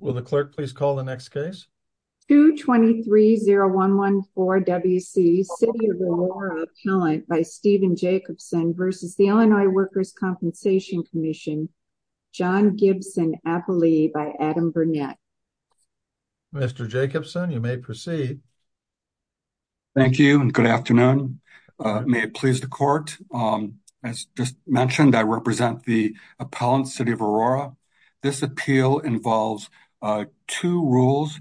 Will the clerk please call the next case? 2230114 WC City of Aurora Appellant by Stephen Jacobson v. Illinois Workers' Compensation Comm'n John Gibson-Appley v. Adam Burnett Mr. Jacobson, you may proceed. Thank you and good afternoon. May it please the court. As just mentioned, I represent the appeal involves two rules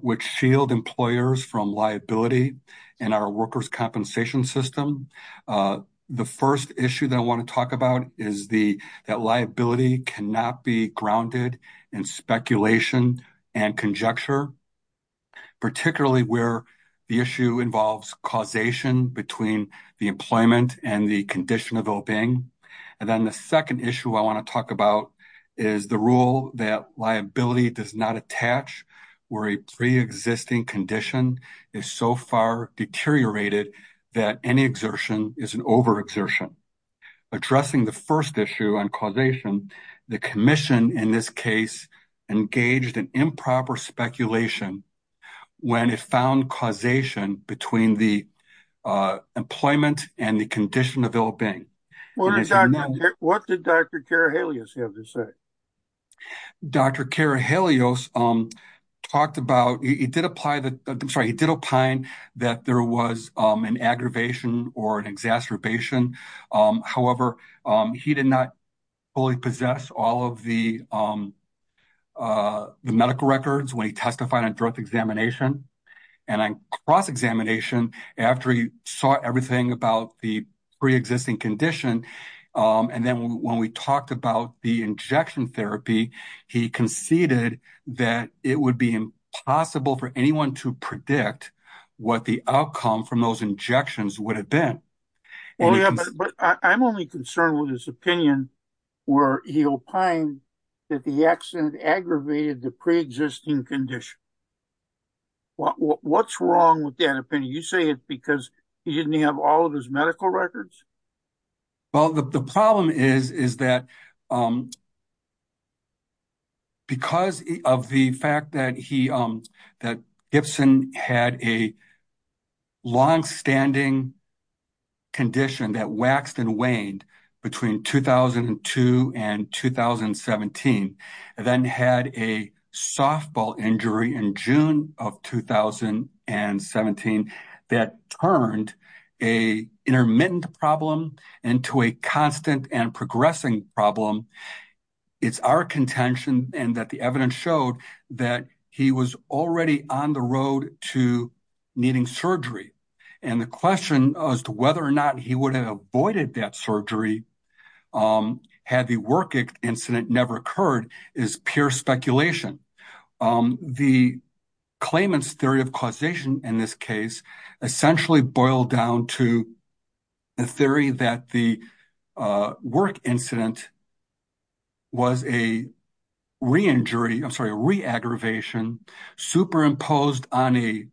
which shield employers from liability in our workers' compensation system. The first issue that I want to talk about is that liability cannot be grounded in speculation and conjecture, particularly where the issue involves causation between the employment and the condition of oping. And then the second issue I want to talk about is the rule that liability does not attach where a pre-existing condition is so far deteriorated that any exertion is an overexertion. Addressing the first issue on causation, the commission in this case engaged in improper speculation when it found causation between the employment and condition of oping. What did Dr. Karahelios have to say? Dr. Karahelios talked about, he did apply that there was an aggravation or an exacerbation. However, he did not fully possess all of the medical records when he testified on direct examination. And on cross-examination, after he saw everything about the pre-existing condition, and then when we talked about the injection therapy, he conceded that it would be impossible for anyone to predict what the outcome from those injections would have been. I'm only concerned with his opinion where he opined that the accident aggravated the pre-existing condition. Well, what's wrong with that opinion? You say it because he didn't have all of his medical records? Well, the problem is that because of the fact that he, that Gibson had a long-standing condition that waxed and waned between 2002 and 2017, then had a softball injury in June of 2017 that turned an intermittent problem into a constant and progressing problem. It's our contention and that the evidence showed that he was already on the road to needing surgery. And the question as to whether or not he would have avoided that surgery had the work incident never occurred is pure speculation. The Clayman's theory of causation in this case essentially boiled down to the theory that the work incident was a re-injury, I'm sorry, a re-aggravation superimposed on a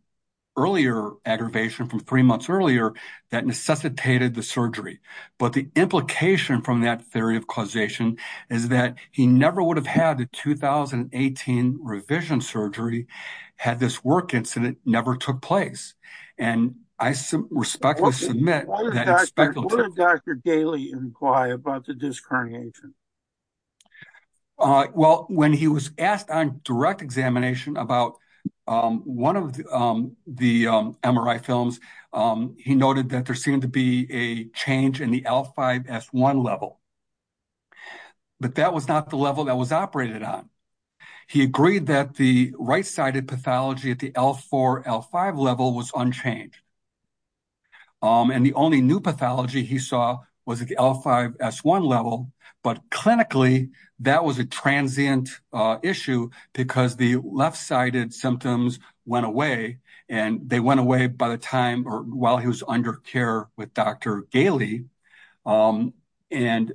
earlier aggravation from three months earlier that necessitated the surgery. But the implication from that theory of causation is that he never would have had a 2018 revision surgery had this work incident never took place. And I respectfully submit that it's speculative. What did Dr. Daly inquire about the disc herniation? Well, when he was asked on direct examination about one of the MRI films, he noted that there seemed to be a change in the L5 S1 level, but that was not the level that was operated on. He agreed that the right-sided pathology at the L4 L5 level was unchanged. And the only new pathology he saw was at the L5 S1 level, but clinically that was a transient issue because the left-sided symptoms went away and they went away by the time or while he was under care with Dr. Daly. And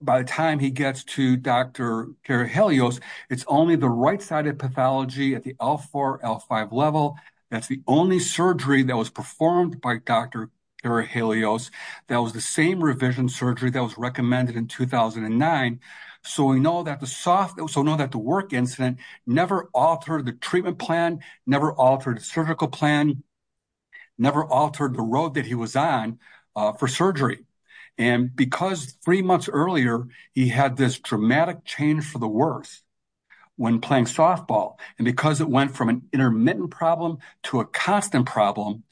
by the time he gets to Dr. Karahelios, it's only the right-sided pathology at the L4 L5 level. That's the only surgery that was performed by Dr. Karahelios. That was the same revision surgery that was recommended in 2009. So we know that the work incident never altered the treatment plan, never altered the surgical plan, never altered the road that he was on for surgery. And because three months earlier, he had this dramatic change for the worse when playing softball. And because it went from an intermittent problem to a constant problem,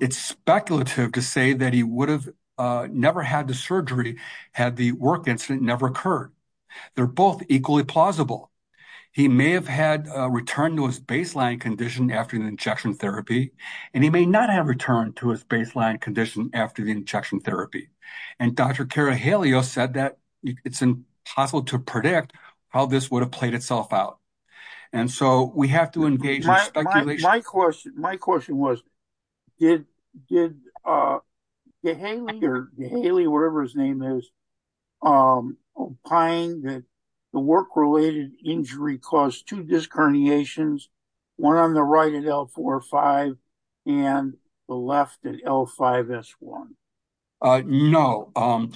it's speculative to say that he would have never had the surgery had the work incident never occurred. They're both equally plausible. He may have had a return to his baseline condition after the injection therapy, and he may not have returned to his baseline condition after the injection therapy. And Dr. Karahelios said that it's impossible to predict how this would have played itself out. And so we have to engage- My question was, did Daly, or Daly, whatever his name is, find that the work-related injury caused two disc herniations, one on the right at L4, L5, and the left at L5, S1? No.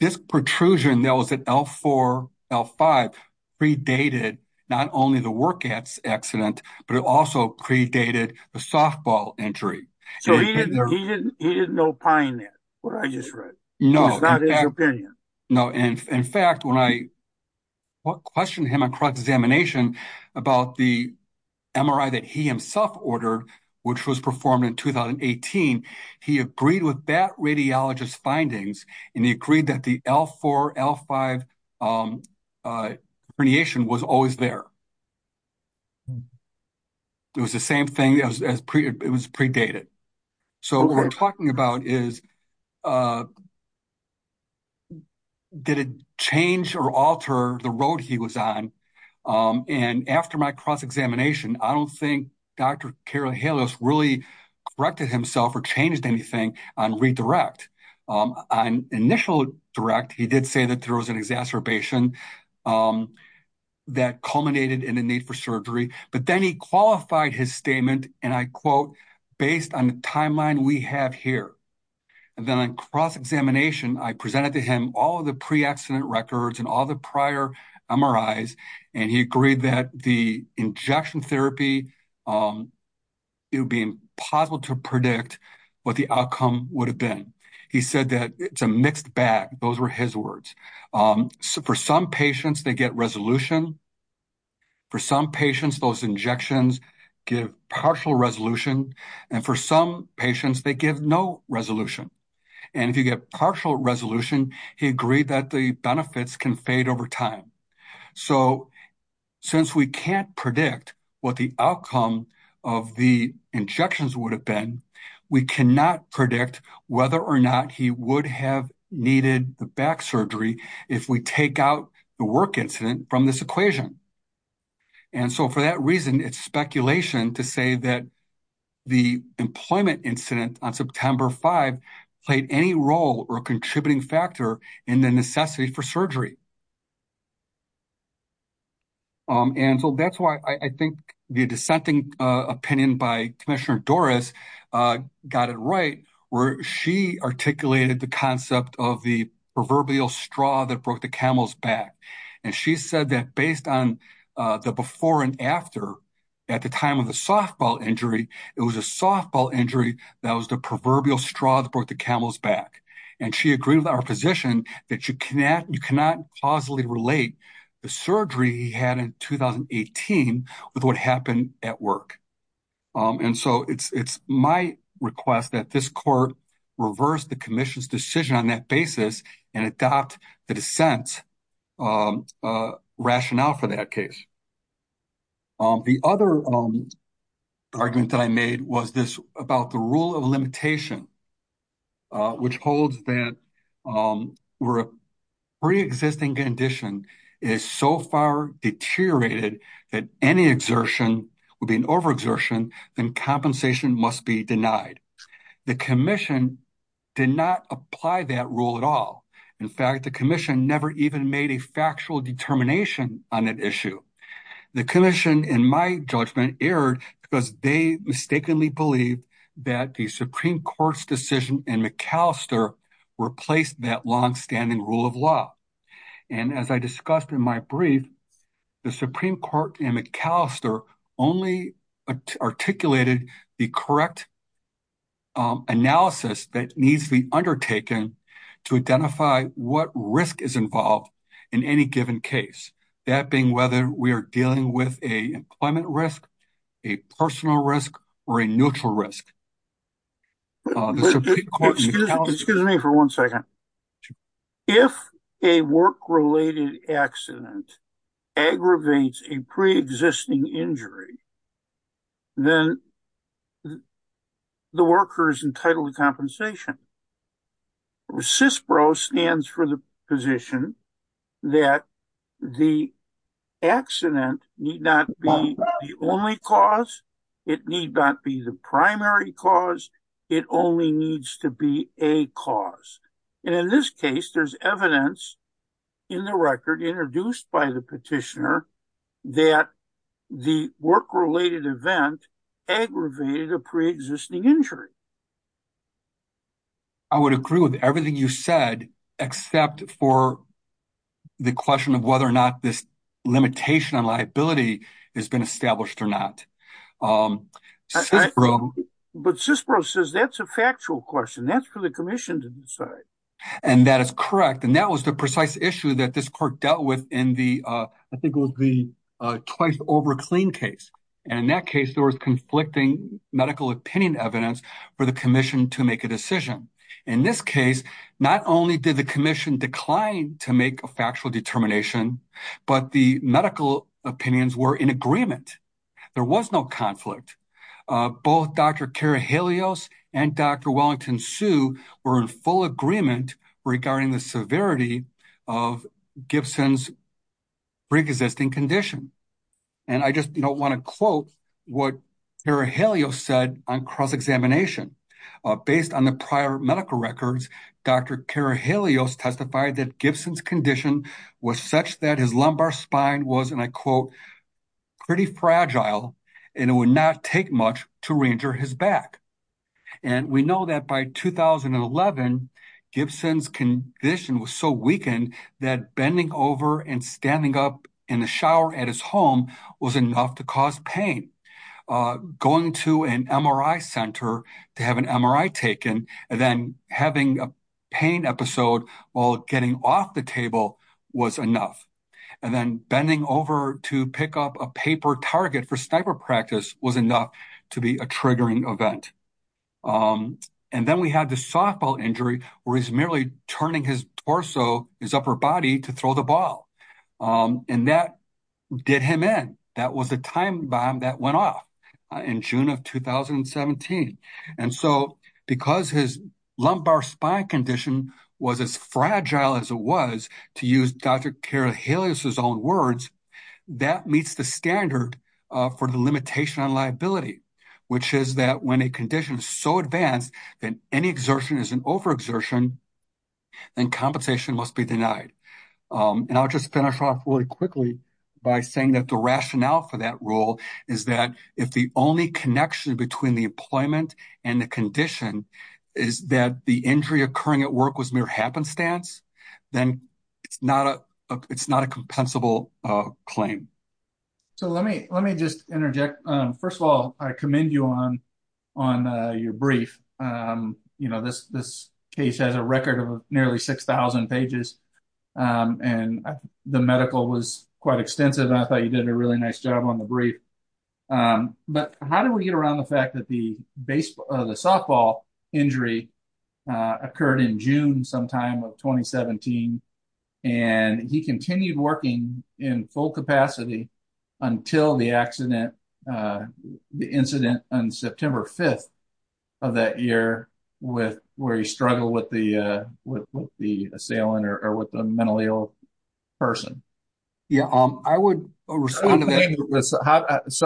This protrusion that was at L4, L5, predated not only the work accident, but it also predated the softball injury. So he didn't opine that, what I just read. No. It's not his opinion. No. In fact, when I questioned him on cross-examination about the MRI that he himself ordered, which was performed in 2018, he agreed with that radiologist's findings, and he agreed that the L4, L5 herniation was always there. It was the same thing, it was predated. So what we're talking about is did it change or alter the road he was on? And after my cross-examination, I don't think Dr. Karel Halios really corrected himself or changed anything on redirect. On initial direct, he did say that there was an exacerbation that culminated in the need for surgery, but then he qualified his statement, and I quote, based on the timeline we have here. And then on cross-examination, I presented to him all of the pre-accident records and all the prior MRIs, and he agreed that the injection therapy, it would be impossible to predict what the outcome would have been. He said that it's a mixed bag. Those were his words. For some patients, they get resolution. For some patients, those injections give partial resolution. And for some patients, they give no resolution. And if you get partial resolution, he agreed that the benefits can fade over time. So since we can't predict what the outcome of the injections would have been, we cannot predict whether or not he would have needed the back surgery if we take out the work incident from this equation. And so for that reason, it's speculation to say that the employment incident on September 5 played any role or contributing factor in the necessity for surgery. And so that's why I think the dissenting opinion by Commissioner Dorris got it right, where she articulated the concept of the proverbial straw that broke the camel's back. And she said that based on the before and after, at the time of the softball injury, it was a softball injury that was the proverbial straw that broke the camel's back. And she agreed with our position that you cannot causally relate the surgery he had in 2018 with what happened at work. And so it's my request that this court reverse the commission's decision on that basis and adopt the dissent rationale for that case. The other argument that I made was this about the rule of limitation, which holds that where a pre-existing condition is so far deteriorated that any exertion would be an overexertion, then compensation must be denied. The commission did not apply that rule at all. In fact, the commission never even made a factual determination on that issue. The commission, in my judgment, erred because they mistakenly believed that the Supreme Court's decision in Macalester replaced that longstanding rule of law. And as I discussed in my brief, the Supreme Court in Macalester only articulated the correct analysis that needs to be undertaken to identify what risk is involved in any given case. That being whether we are dealing with a employment risk, a personal risk, or a neutral risk. Excuse me for one second. If a work-related accident aggravates a pre-existing injury, then the worker is entitled to compensation. CISPRO stands for the position that the accident need not be the only cause. It need not be the primary cause. It only needs to be a cause. And in this case, there's evidence in the record introduced by the petitioner that the work-related event aggravated a pre-existing injury. I would agree with everything you said except for the question of whether or not this limitation on liability has been established or not. But CISPRO says that's a factual question. That's for the commission to decide. And that is correct. And that was the precise issue that this court dealt with in the, I think it was the twice over clean case. And in that case, there was conflicting medical opinion evidence for the commission to make a decision. In this case, not only did the commission decline to make a factual determination, but the medical opinions were in agreement. There was no conflict. Both Dr. Karahelios and Dr. Wellington-Hsu were in full agreement regarding the severity of Gibson's pre-existing condition. And I just want to quote what Karahelios said on cross-examination. Based on the prior medical records, Dr. Karahelios testified that Gibson's condition was such that his lumbar spine was, and I quote, pretty fragile and it would not take much to reinjure his back. And we know that by 2011, Gibson's condition was so weakened that bending over and standing up in the shower at his home was enough to cause pain. Going to an MRI center to have an MRI taken and then having a pain episode while getting off the table was enough. And then bending over to pick up a paper target for sniper practice was enough to be a triggering event. And then we had the softball injury where he's merely turning his torso, his upper body to throw the ball. And that did him in. That was the bomb that went off in June of 2017. And so because his lumbar spine condition was as fragile as it was, to use Dr. Karahelios' own words, that meets the standard for the limitation on liability, which is that when a condition is so advanced that any exertion is an overexertion, then compensation must be denied. And I'll just finish off really quickly by saying that the is that if the only connection between the employment and the condition is that the injury occurring at work was mere happenstance, then it's not a compensable claim. So let me just interject. First of all, I commend you on your brief. This case has a record of nearly 6,000 pages. And the medical was quite extensive. And I thought you did a really nice job on the brief. But how do we get around the fact that the softball injury occurred in June sometime of 2017? And he continued working in full capacity until the accident, the incident on September 5th of that year with where he struggled with the assailant or with the mentally ill person. So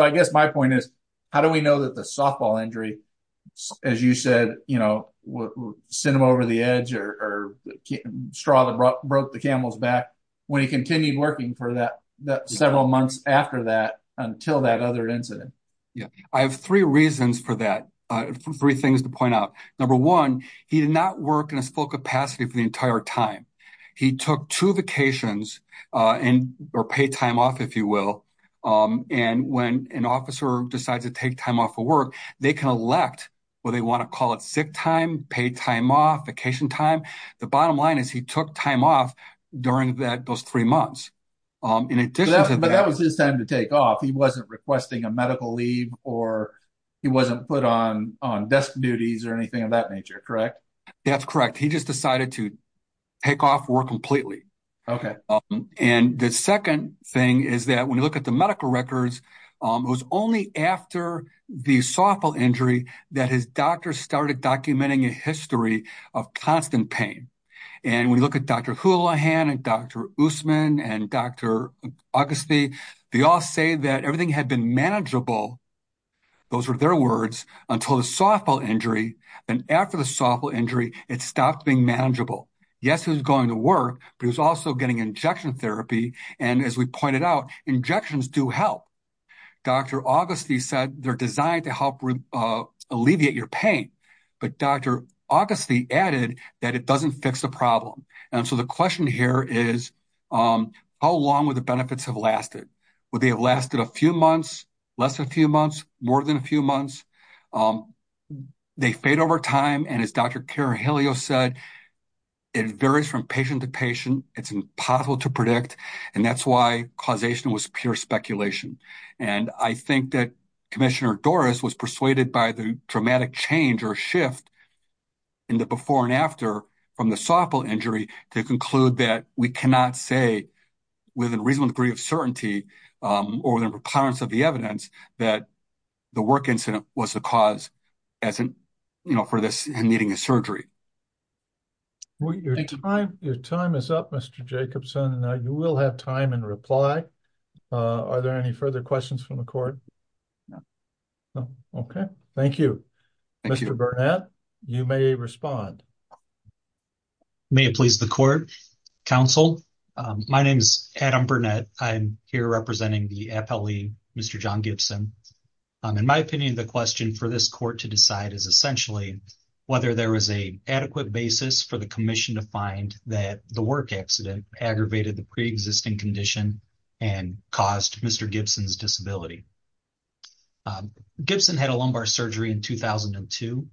I guess my point is, how do we know that the softball injury, as you said, sent him over the edge or straw that broke the camel's back when he continued working for that several months after that until that other incident? Yeah, I have three reasons for that, three things to point out. Number one, he did not work in his full capacity for the entire time. He took two vacations or paid time off, if you will. And when an officer decides to take time off for work, they can elect whether they want to call it sick time, paid time off, vacation time. The bottom line is he took time off during those three months. But that was his time to take off. He wasn't requesting a medical leave or he wasn't put on desk duties or anything of that nature, correct? That's correct. He just decided to take off work completely. Okay. And the second thing is that when you look at the medical records, it was only after the softball injury that his doctor started documenting a history of constant pain. And when you look at Dr. Houlahan and Dr. Usman and Dr. Augusty, they all say that everything had been manageable. Those were their and after the softball injury, it stopped being manageable. Yes, it was going to work, but it was also getting injection therapy. And as we pointed out, injections do help. Dr. Augusty said they're designed to help alleviate your pain. But Dr. Augusty added that it doesn't fix the problem. And so the question here is, how long would the benefits have lasted? Would they have lasted a few months, less than a few months, more than a few months? They fade over time. And as Dr. Carahelio said, it varies from patient to patient. It's impossible to predict. And that's why causation was pure speculation. And I think that Commissioner Doris was persuaded by the dramatic change or shift in the before and after from the softball injury to conclude that we cannot say with a reasonable degree of certainty or the recurrence of the evidence that the work incident was the cause for this and needing a surgery. Your time is up, Mr. Jacobson. And now you will have time and reply. Are there any further questions from the court? No. Okay. Thank you. Mr. Burnett, you may respond. May it please the court, counsel. My name is Adam Burnett. I'm here representing the FLE, Mr. John Gibson. In my opinion, the question for this court to decide is essentially whether there is an adequate basis for the commission to find that the work accident aggravated the preexisting condition and caused Mr. Gibson's disability. Gibson had a lumbar surgery in 2002.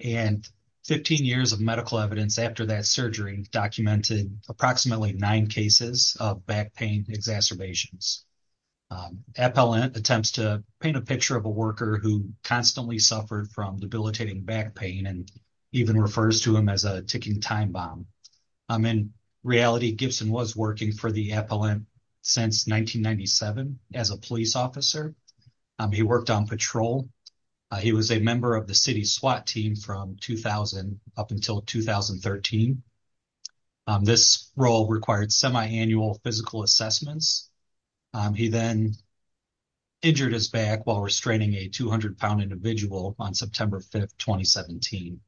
And 15 years of medical evidence after that surgery documented approximately nine cases of back pain exacerbations. Appellant attempts to paint a picture of a worker who constantly suffered from debilitating back pain and even refers to him as a ticking time bomb. In reality, Gibson was working for the appellant since 1997 as a police officer. He worked on patrol. He was a member of the city SWAT team from 2000 up until 2013. This role required semi-annual physical assessments. He then injured his back while restraining a 200-pound individual on September 5, 2017.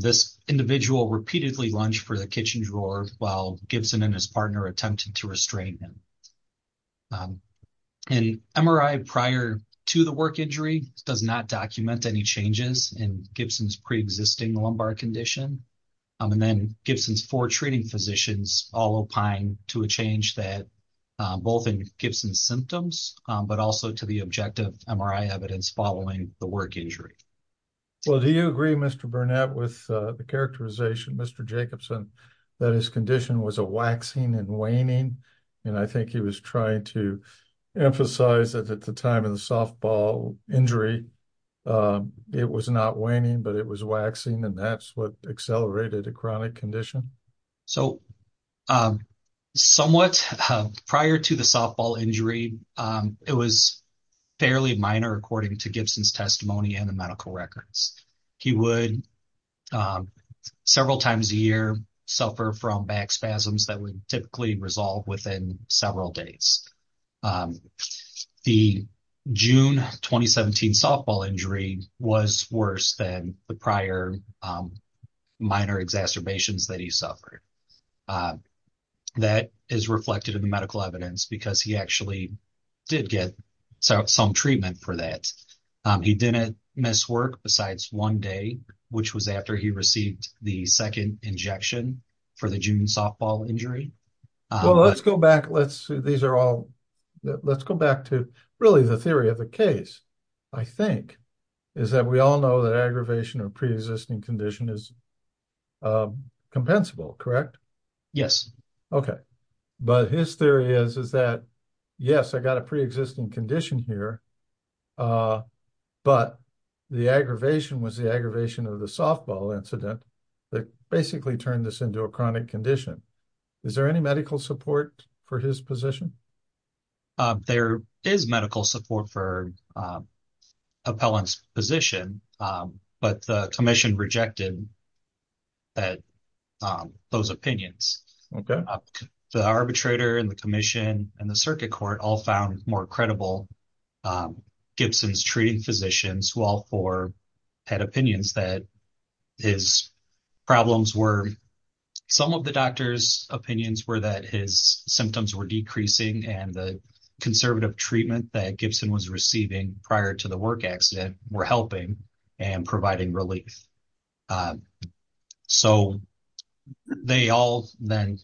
This individual repeatedly lunged for to the work injury, does not document any changes in Gibson's preexisting lumbar condition. And then Gibson's four treating physicians all opine to a change that both in Gibson's symptoms, but also to the objective MRI evidence following the work injury. Well, do you agree, Mr. Burnett, with the characterization, Mr. Jacobson, that his condition was a waxing and waning? And I think he was trying to emphasize that the time of the softball injury, it was not waning, but it was waxing. And that's what accelerated a chronic condition. So somewhat prior to the softball injury, it was fairly minor according to Gibson's testimony and the medical records. He would several times a year suffer from back spasms that would typically resolve within several days. The June 2017 softball injury was worse than the prior minor exacerbations that he suffered. That is reflected in the medical evidence because he actually did get some treatment for that. He didn't miss work besides one day, which was after he received the second injection for the June 2017 softball injury. Well, let's go back to really the theory of the case, I think, is that we all know that aggravation or preexisting condition is compensable, correct? Yes. Okay. But his theory is that, yes, I got a preexisting condition here, but the aggravation was the aggravation of the softball incident that basically turned this into a chronic condition. Is there any medical support for his position? There is medical support for Appellant's position, but the commission rejected those opinions. The arbitrator and the commission and the circuit court all found more credible Gibson's treating physicians who all four had opinions that his problems were, some of the doctor's opinions were that his symptoms were decreasing and the conservative treatment that Gibson was receiving prior to the work accident were helping and providing relief. Um, so they all then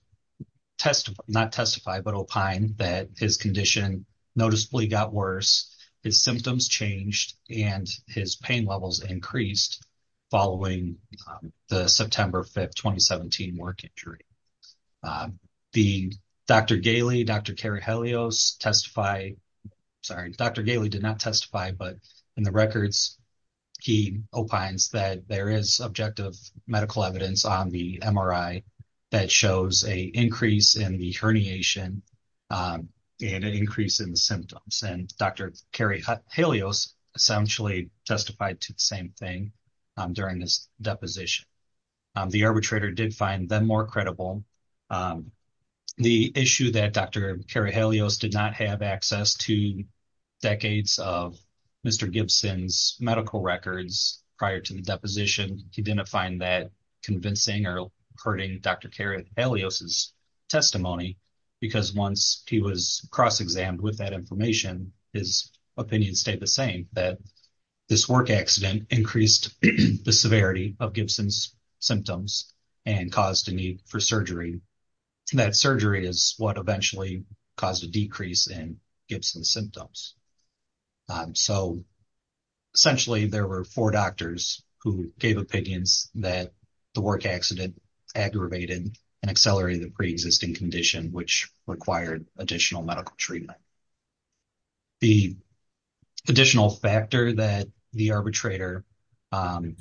test, not testify, but opine that his condition noticeably got worse. His symptoms changed and his pain levels increased following the September 5th, 2017 work injury. Um, the Dr. Gailey, Dr. Kerry Helios testify, sorry, Dr. Gailey did not testify, but in the objective medical evidence on the MRI that shows a increase in the herniation and an increase in the symptoms. And Dr. Kerry Helios essentially testified to the same thing during this deposition. Um, the arbitrator did find them more credible. Um, the issue that Dr. Kerry Helios did have access to decades of Mr. Gibson's medical records prior to the deposition. He didn't find that convincing or hurting Dr. Kerry Helios' testimony because once he was cross-examined with that information, his opinion stayed the same, that this work accident increased the severity of Gibson's symptoms and caused a need for surgery. And that surgery is what eventually caused a decrease in Gibson's symptoms. Um, so essentially there were four doctors who gave opinions that the work accident aggravated and accelerated the preexisting condition, which required additional medical treatment. The additional factor that the arbitrator, um,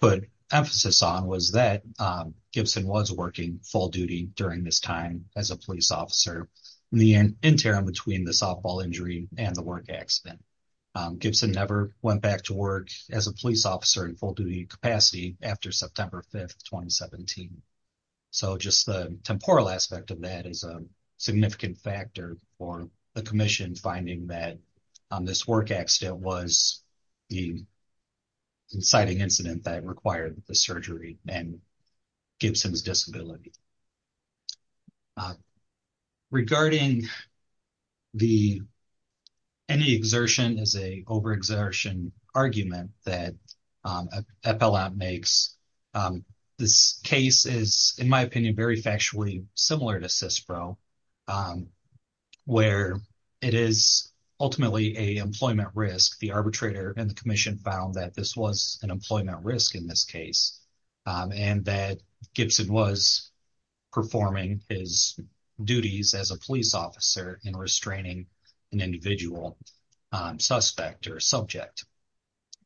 put emphasis on was that, um, Gibson was working full duty during this time as a police officer in the interim between the softball injury and the work accident. Um, Gibson never went back to work as a police officer in full duty capacity after September 5th, 2017. So just the temporal aspect of that is a significant factor for the commission finding that, um, this work accident was the inciting incident that required the surgery and Gibson's disability. Regarding the, any exertion is a overexertion argument that, um, FLM makes. Um, this case is in my opinion, very factually similar to CISPRO, um, where it is ultimately a employment risk. The employment risk in this case, um, and that Gibson was performing his duties as a police officer in restraining an individual, um, suspect or subject.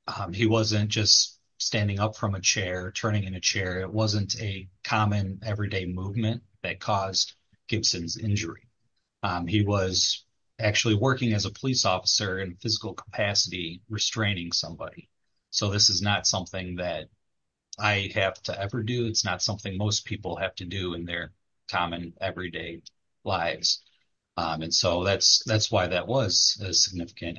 Um, he wasn't just standing up from a chair, turning in a chair. It wasn't a common everyday movement that caused Gibson's injury. Um, he was actually working as a police officer in physical capacity, restraining somebody. So this is not something that I have to ever do. It's not something most people have to do in their common everyday lives. Um, and so that's, that's why that was a significant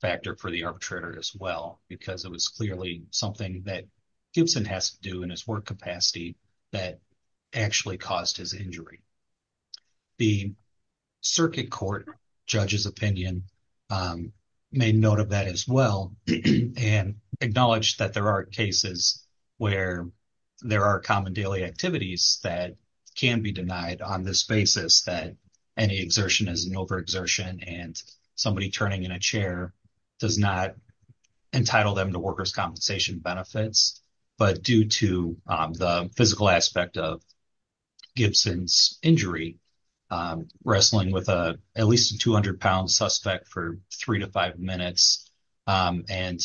factor for the arbitrator as well, because it was clearly something that Gibson has to do in his work that actually caused his injury. The circuit court judge's opinion, um, made note of that as well and acknowledged that there are cases where there are common daily activities that can be denied on this basis that any exertion is an overexertion and somebody turning in a chair does not entitle them to workers' compensation benefits. But due to, um, the physical aspect of Gibson's injury, um, wrestling with a, at least a 200-pound suspect for three to five minutes, um, and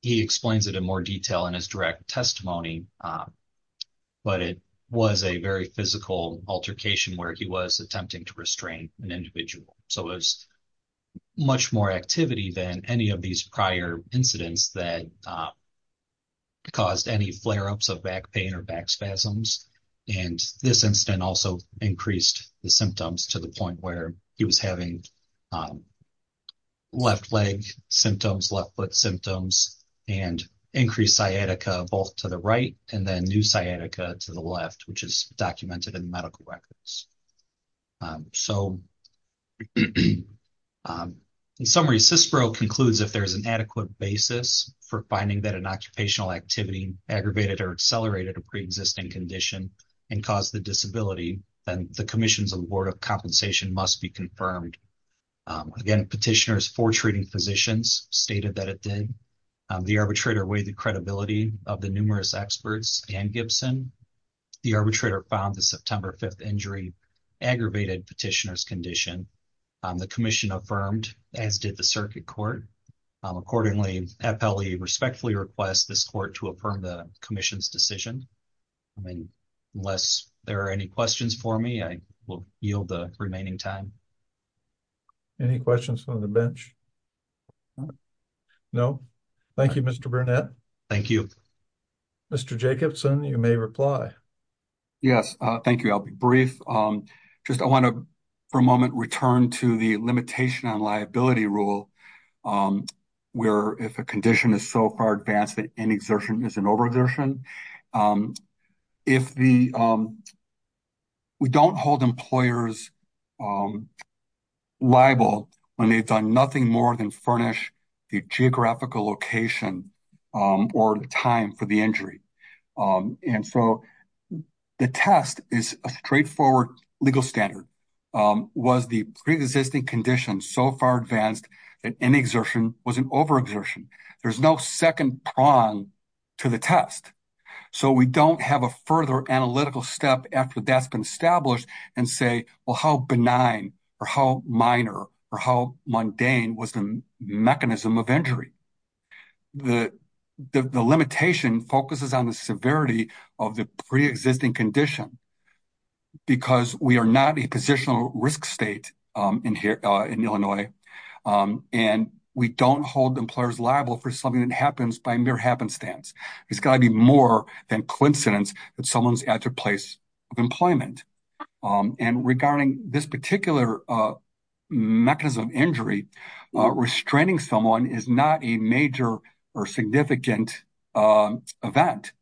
he explains it in more detail in his direct testimony, um, but it was a very physical altercation where he was attempting to restrain an individual. So it was much more activity than any of these prior incidents that, um, caused any flare-ups of back pain or back spasms. And this incident also increased the symptoms to the point where he was having, um, left leg symptoms, left foot symptoms, and increased sciatica both to the right and then new sciatica to the left, which is documented in the medical records. Um, so, um, in summary, CISPRO concludes if there is an adequate basis for finding that an occupational activity aggravated or accelerated a preexisting condition and caused the disability, then the commission's award of compensation must be confirmed. Um, again, petitioners for treating physicians stated that it did. Um, the arbitrator weighed the credibility of the numerous experts and Gibson. The arbitrator found the September 5th injury aggravated petitioner's condition. Um, the commission affirmed as did the circuit court. Accordingly, FLE respectfully requests this court to affirm the commission's decision. I mean, unless there are any questions for me, I will yield the remaining time. Any questions on the bench? No. Thank you, Mr. Burnett. Thank you, Mr. Jacobson. You may reply. Yes. Uh, thank you. I'll be brief. Um, just, I want to for a moment return to the limitation on liability rule. Um, where if a condition is so far advanced that an exertion is an over exertion, um, if the, um, we don't hold employers, um, liable when they've done nothing more than furnish the geographical location, um, or the time for the injury. Um, and so the test is a straightforward legal standard, um, was the preexisting condition so far advanced that any exertion was an over exertion. There's no second prong to the test. So we don't have a further analytical step after that's been established and say, well, how benign or how minor or how mundane was the mechanism of injury? The, the, the limitation focuses on the severity of the preexisting condition because we are not a positional risk state, um, in here, uh, in Illinois. Um, and we don't hold employers liable for something that happens by mere happenstance. It's gotta be more than coincidence that someone's at their place of employment. Um, and regarding this particular, uh, mechanism injury, uh, restraining someone is not a major or significant, um, event.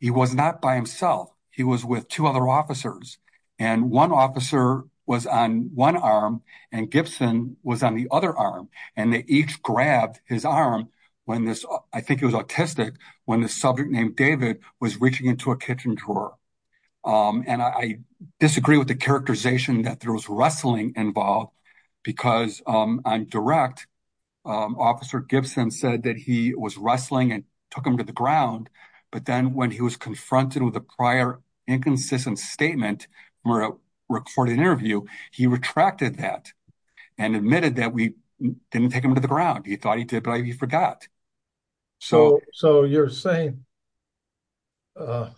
He was not by himself. He was with two other officers and one officer was on one arm and Gibson was on the other arm and they each grabbed his arm when this, I think it was autistic when the subject named David was reaching into a kitchen drawer. Um, and I disagree with the characterization that there was wrestling involved because, um, on direct, um, officer Gibson said that he was wrestling and took him to the ground. But then when he was confronted with a prior inconsistent statement or a recorded interview, he retracted that and admitted that we didn't take him to the ground. He thought he did, but he forgot. So, so you're saying, uh,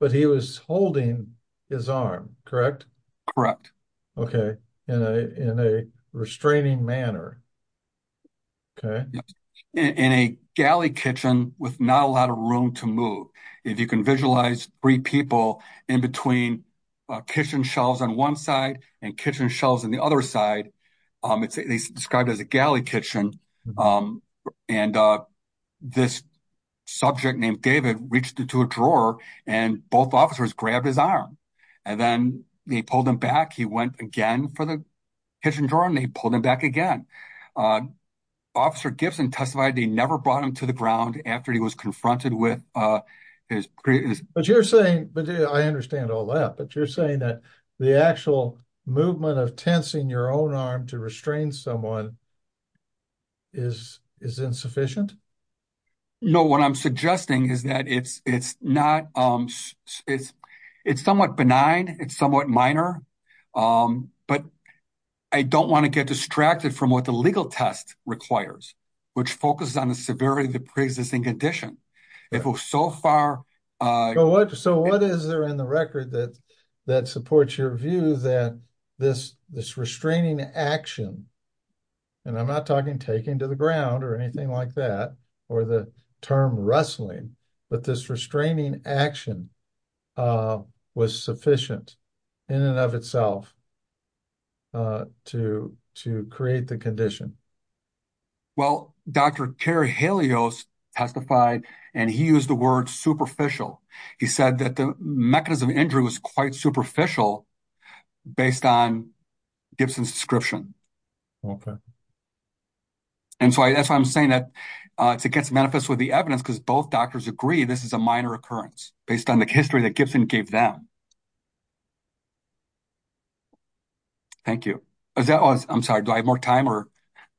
but he was holding his arm, correct? Correct. Okay. In a restraining manner. Okay. In a galley kitchen with not a lot of room to move. If you can visualize three people in between a kitchen shelves on one side and kitchen shelves on the other side, um, it's described as a galley kitchen. Um, and, uh, this subject named David reached into a drawer and both officers grabbed his arm and then they pulled him back. He went again for the kitchen drawer and they pulled him back again. Uh, officer Gibson testified, they never brought him to the ground after he was confronted with, uh, his previous, but you're saying, but I understand all that, but you're saying that the actual movement of tensing your own arm to restrain someone is, is insufficient. No, what I'm suggesting is that it's, not, um, it's, it's somewhat benign. It's somewhat minor. Um, but I don't want to get distracted from what the legal test requires, which focuses on the severity of the preexisting condition. If so far, uh, so what is there in the record that, that supports your view that this, this restraining action, and I'm not talking taking to the ground or anything like that, or the term wrestling, but this restraining action, uh, was sufficient in and of itself, uh, to, to create the condition. Well, Dr. Terry Helios testified and he used the word superficial. He said that the mechanism of injury was quite superficial based on Okay. And so that's why I'm saying that, uh, it gets manifest with the evidence because both doctors agree this is a minor occurrence based on the history that Gibson gave them. Thank you. Is that was, I'm sorry, do I have more time or?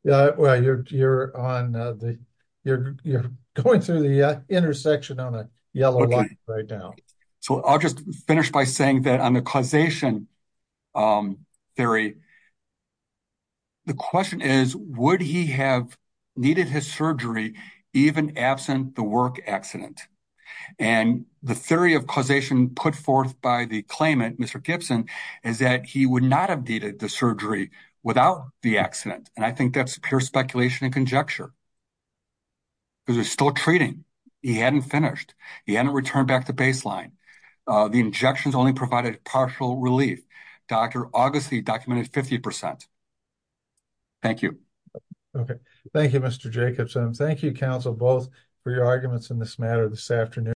Yeah, well, you're, you're on the, you're, you're going through the intersection on a yellow line right now. So I'll just finish by saying that on the causation, um, theory, the question is, would he have needed his surgery even absent the work accident? And the theory of causation put forth by the claimant, Mr. Gibson, is that he would not have needed the surgery without the accident. And I think that's pure speculation and conjecture because they're still treating. He hadn't finished. He hadn't returned back to baseline. Uh, the injections only provided partial relief. Dr. Augusty documented 50%. Thank you. Okay. Thank you, Mr. Jacobson. Thank you. Council both for your arguments in this matter this afternoon.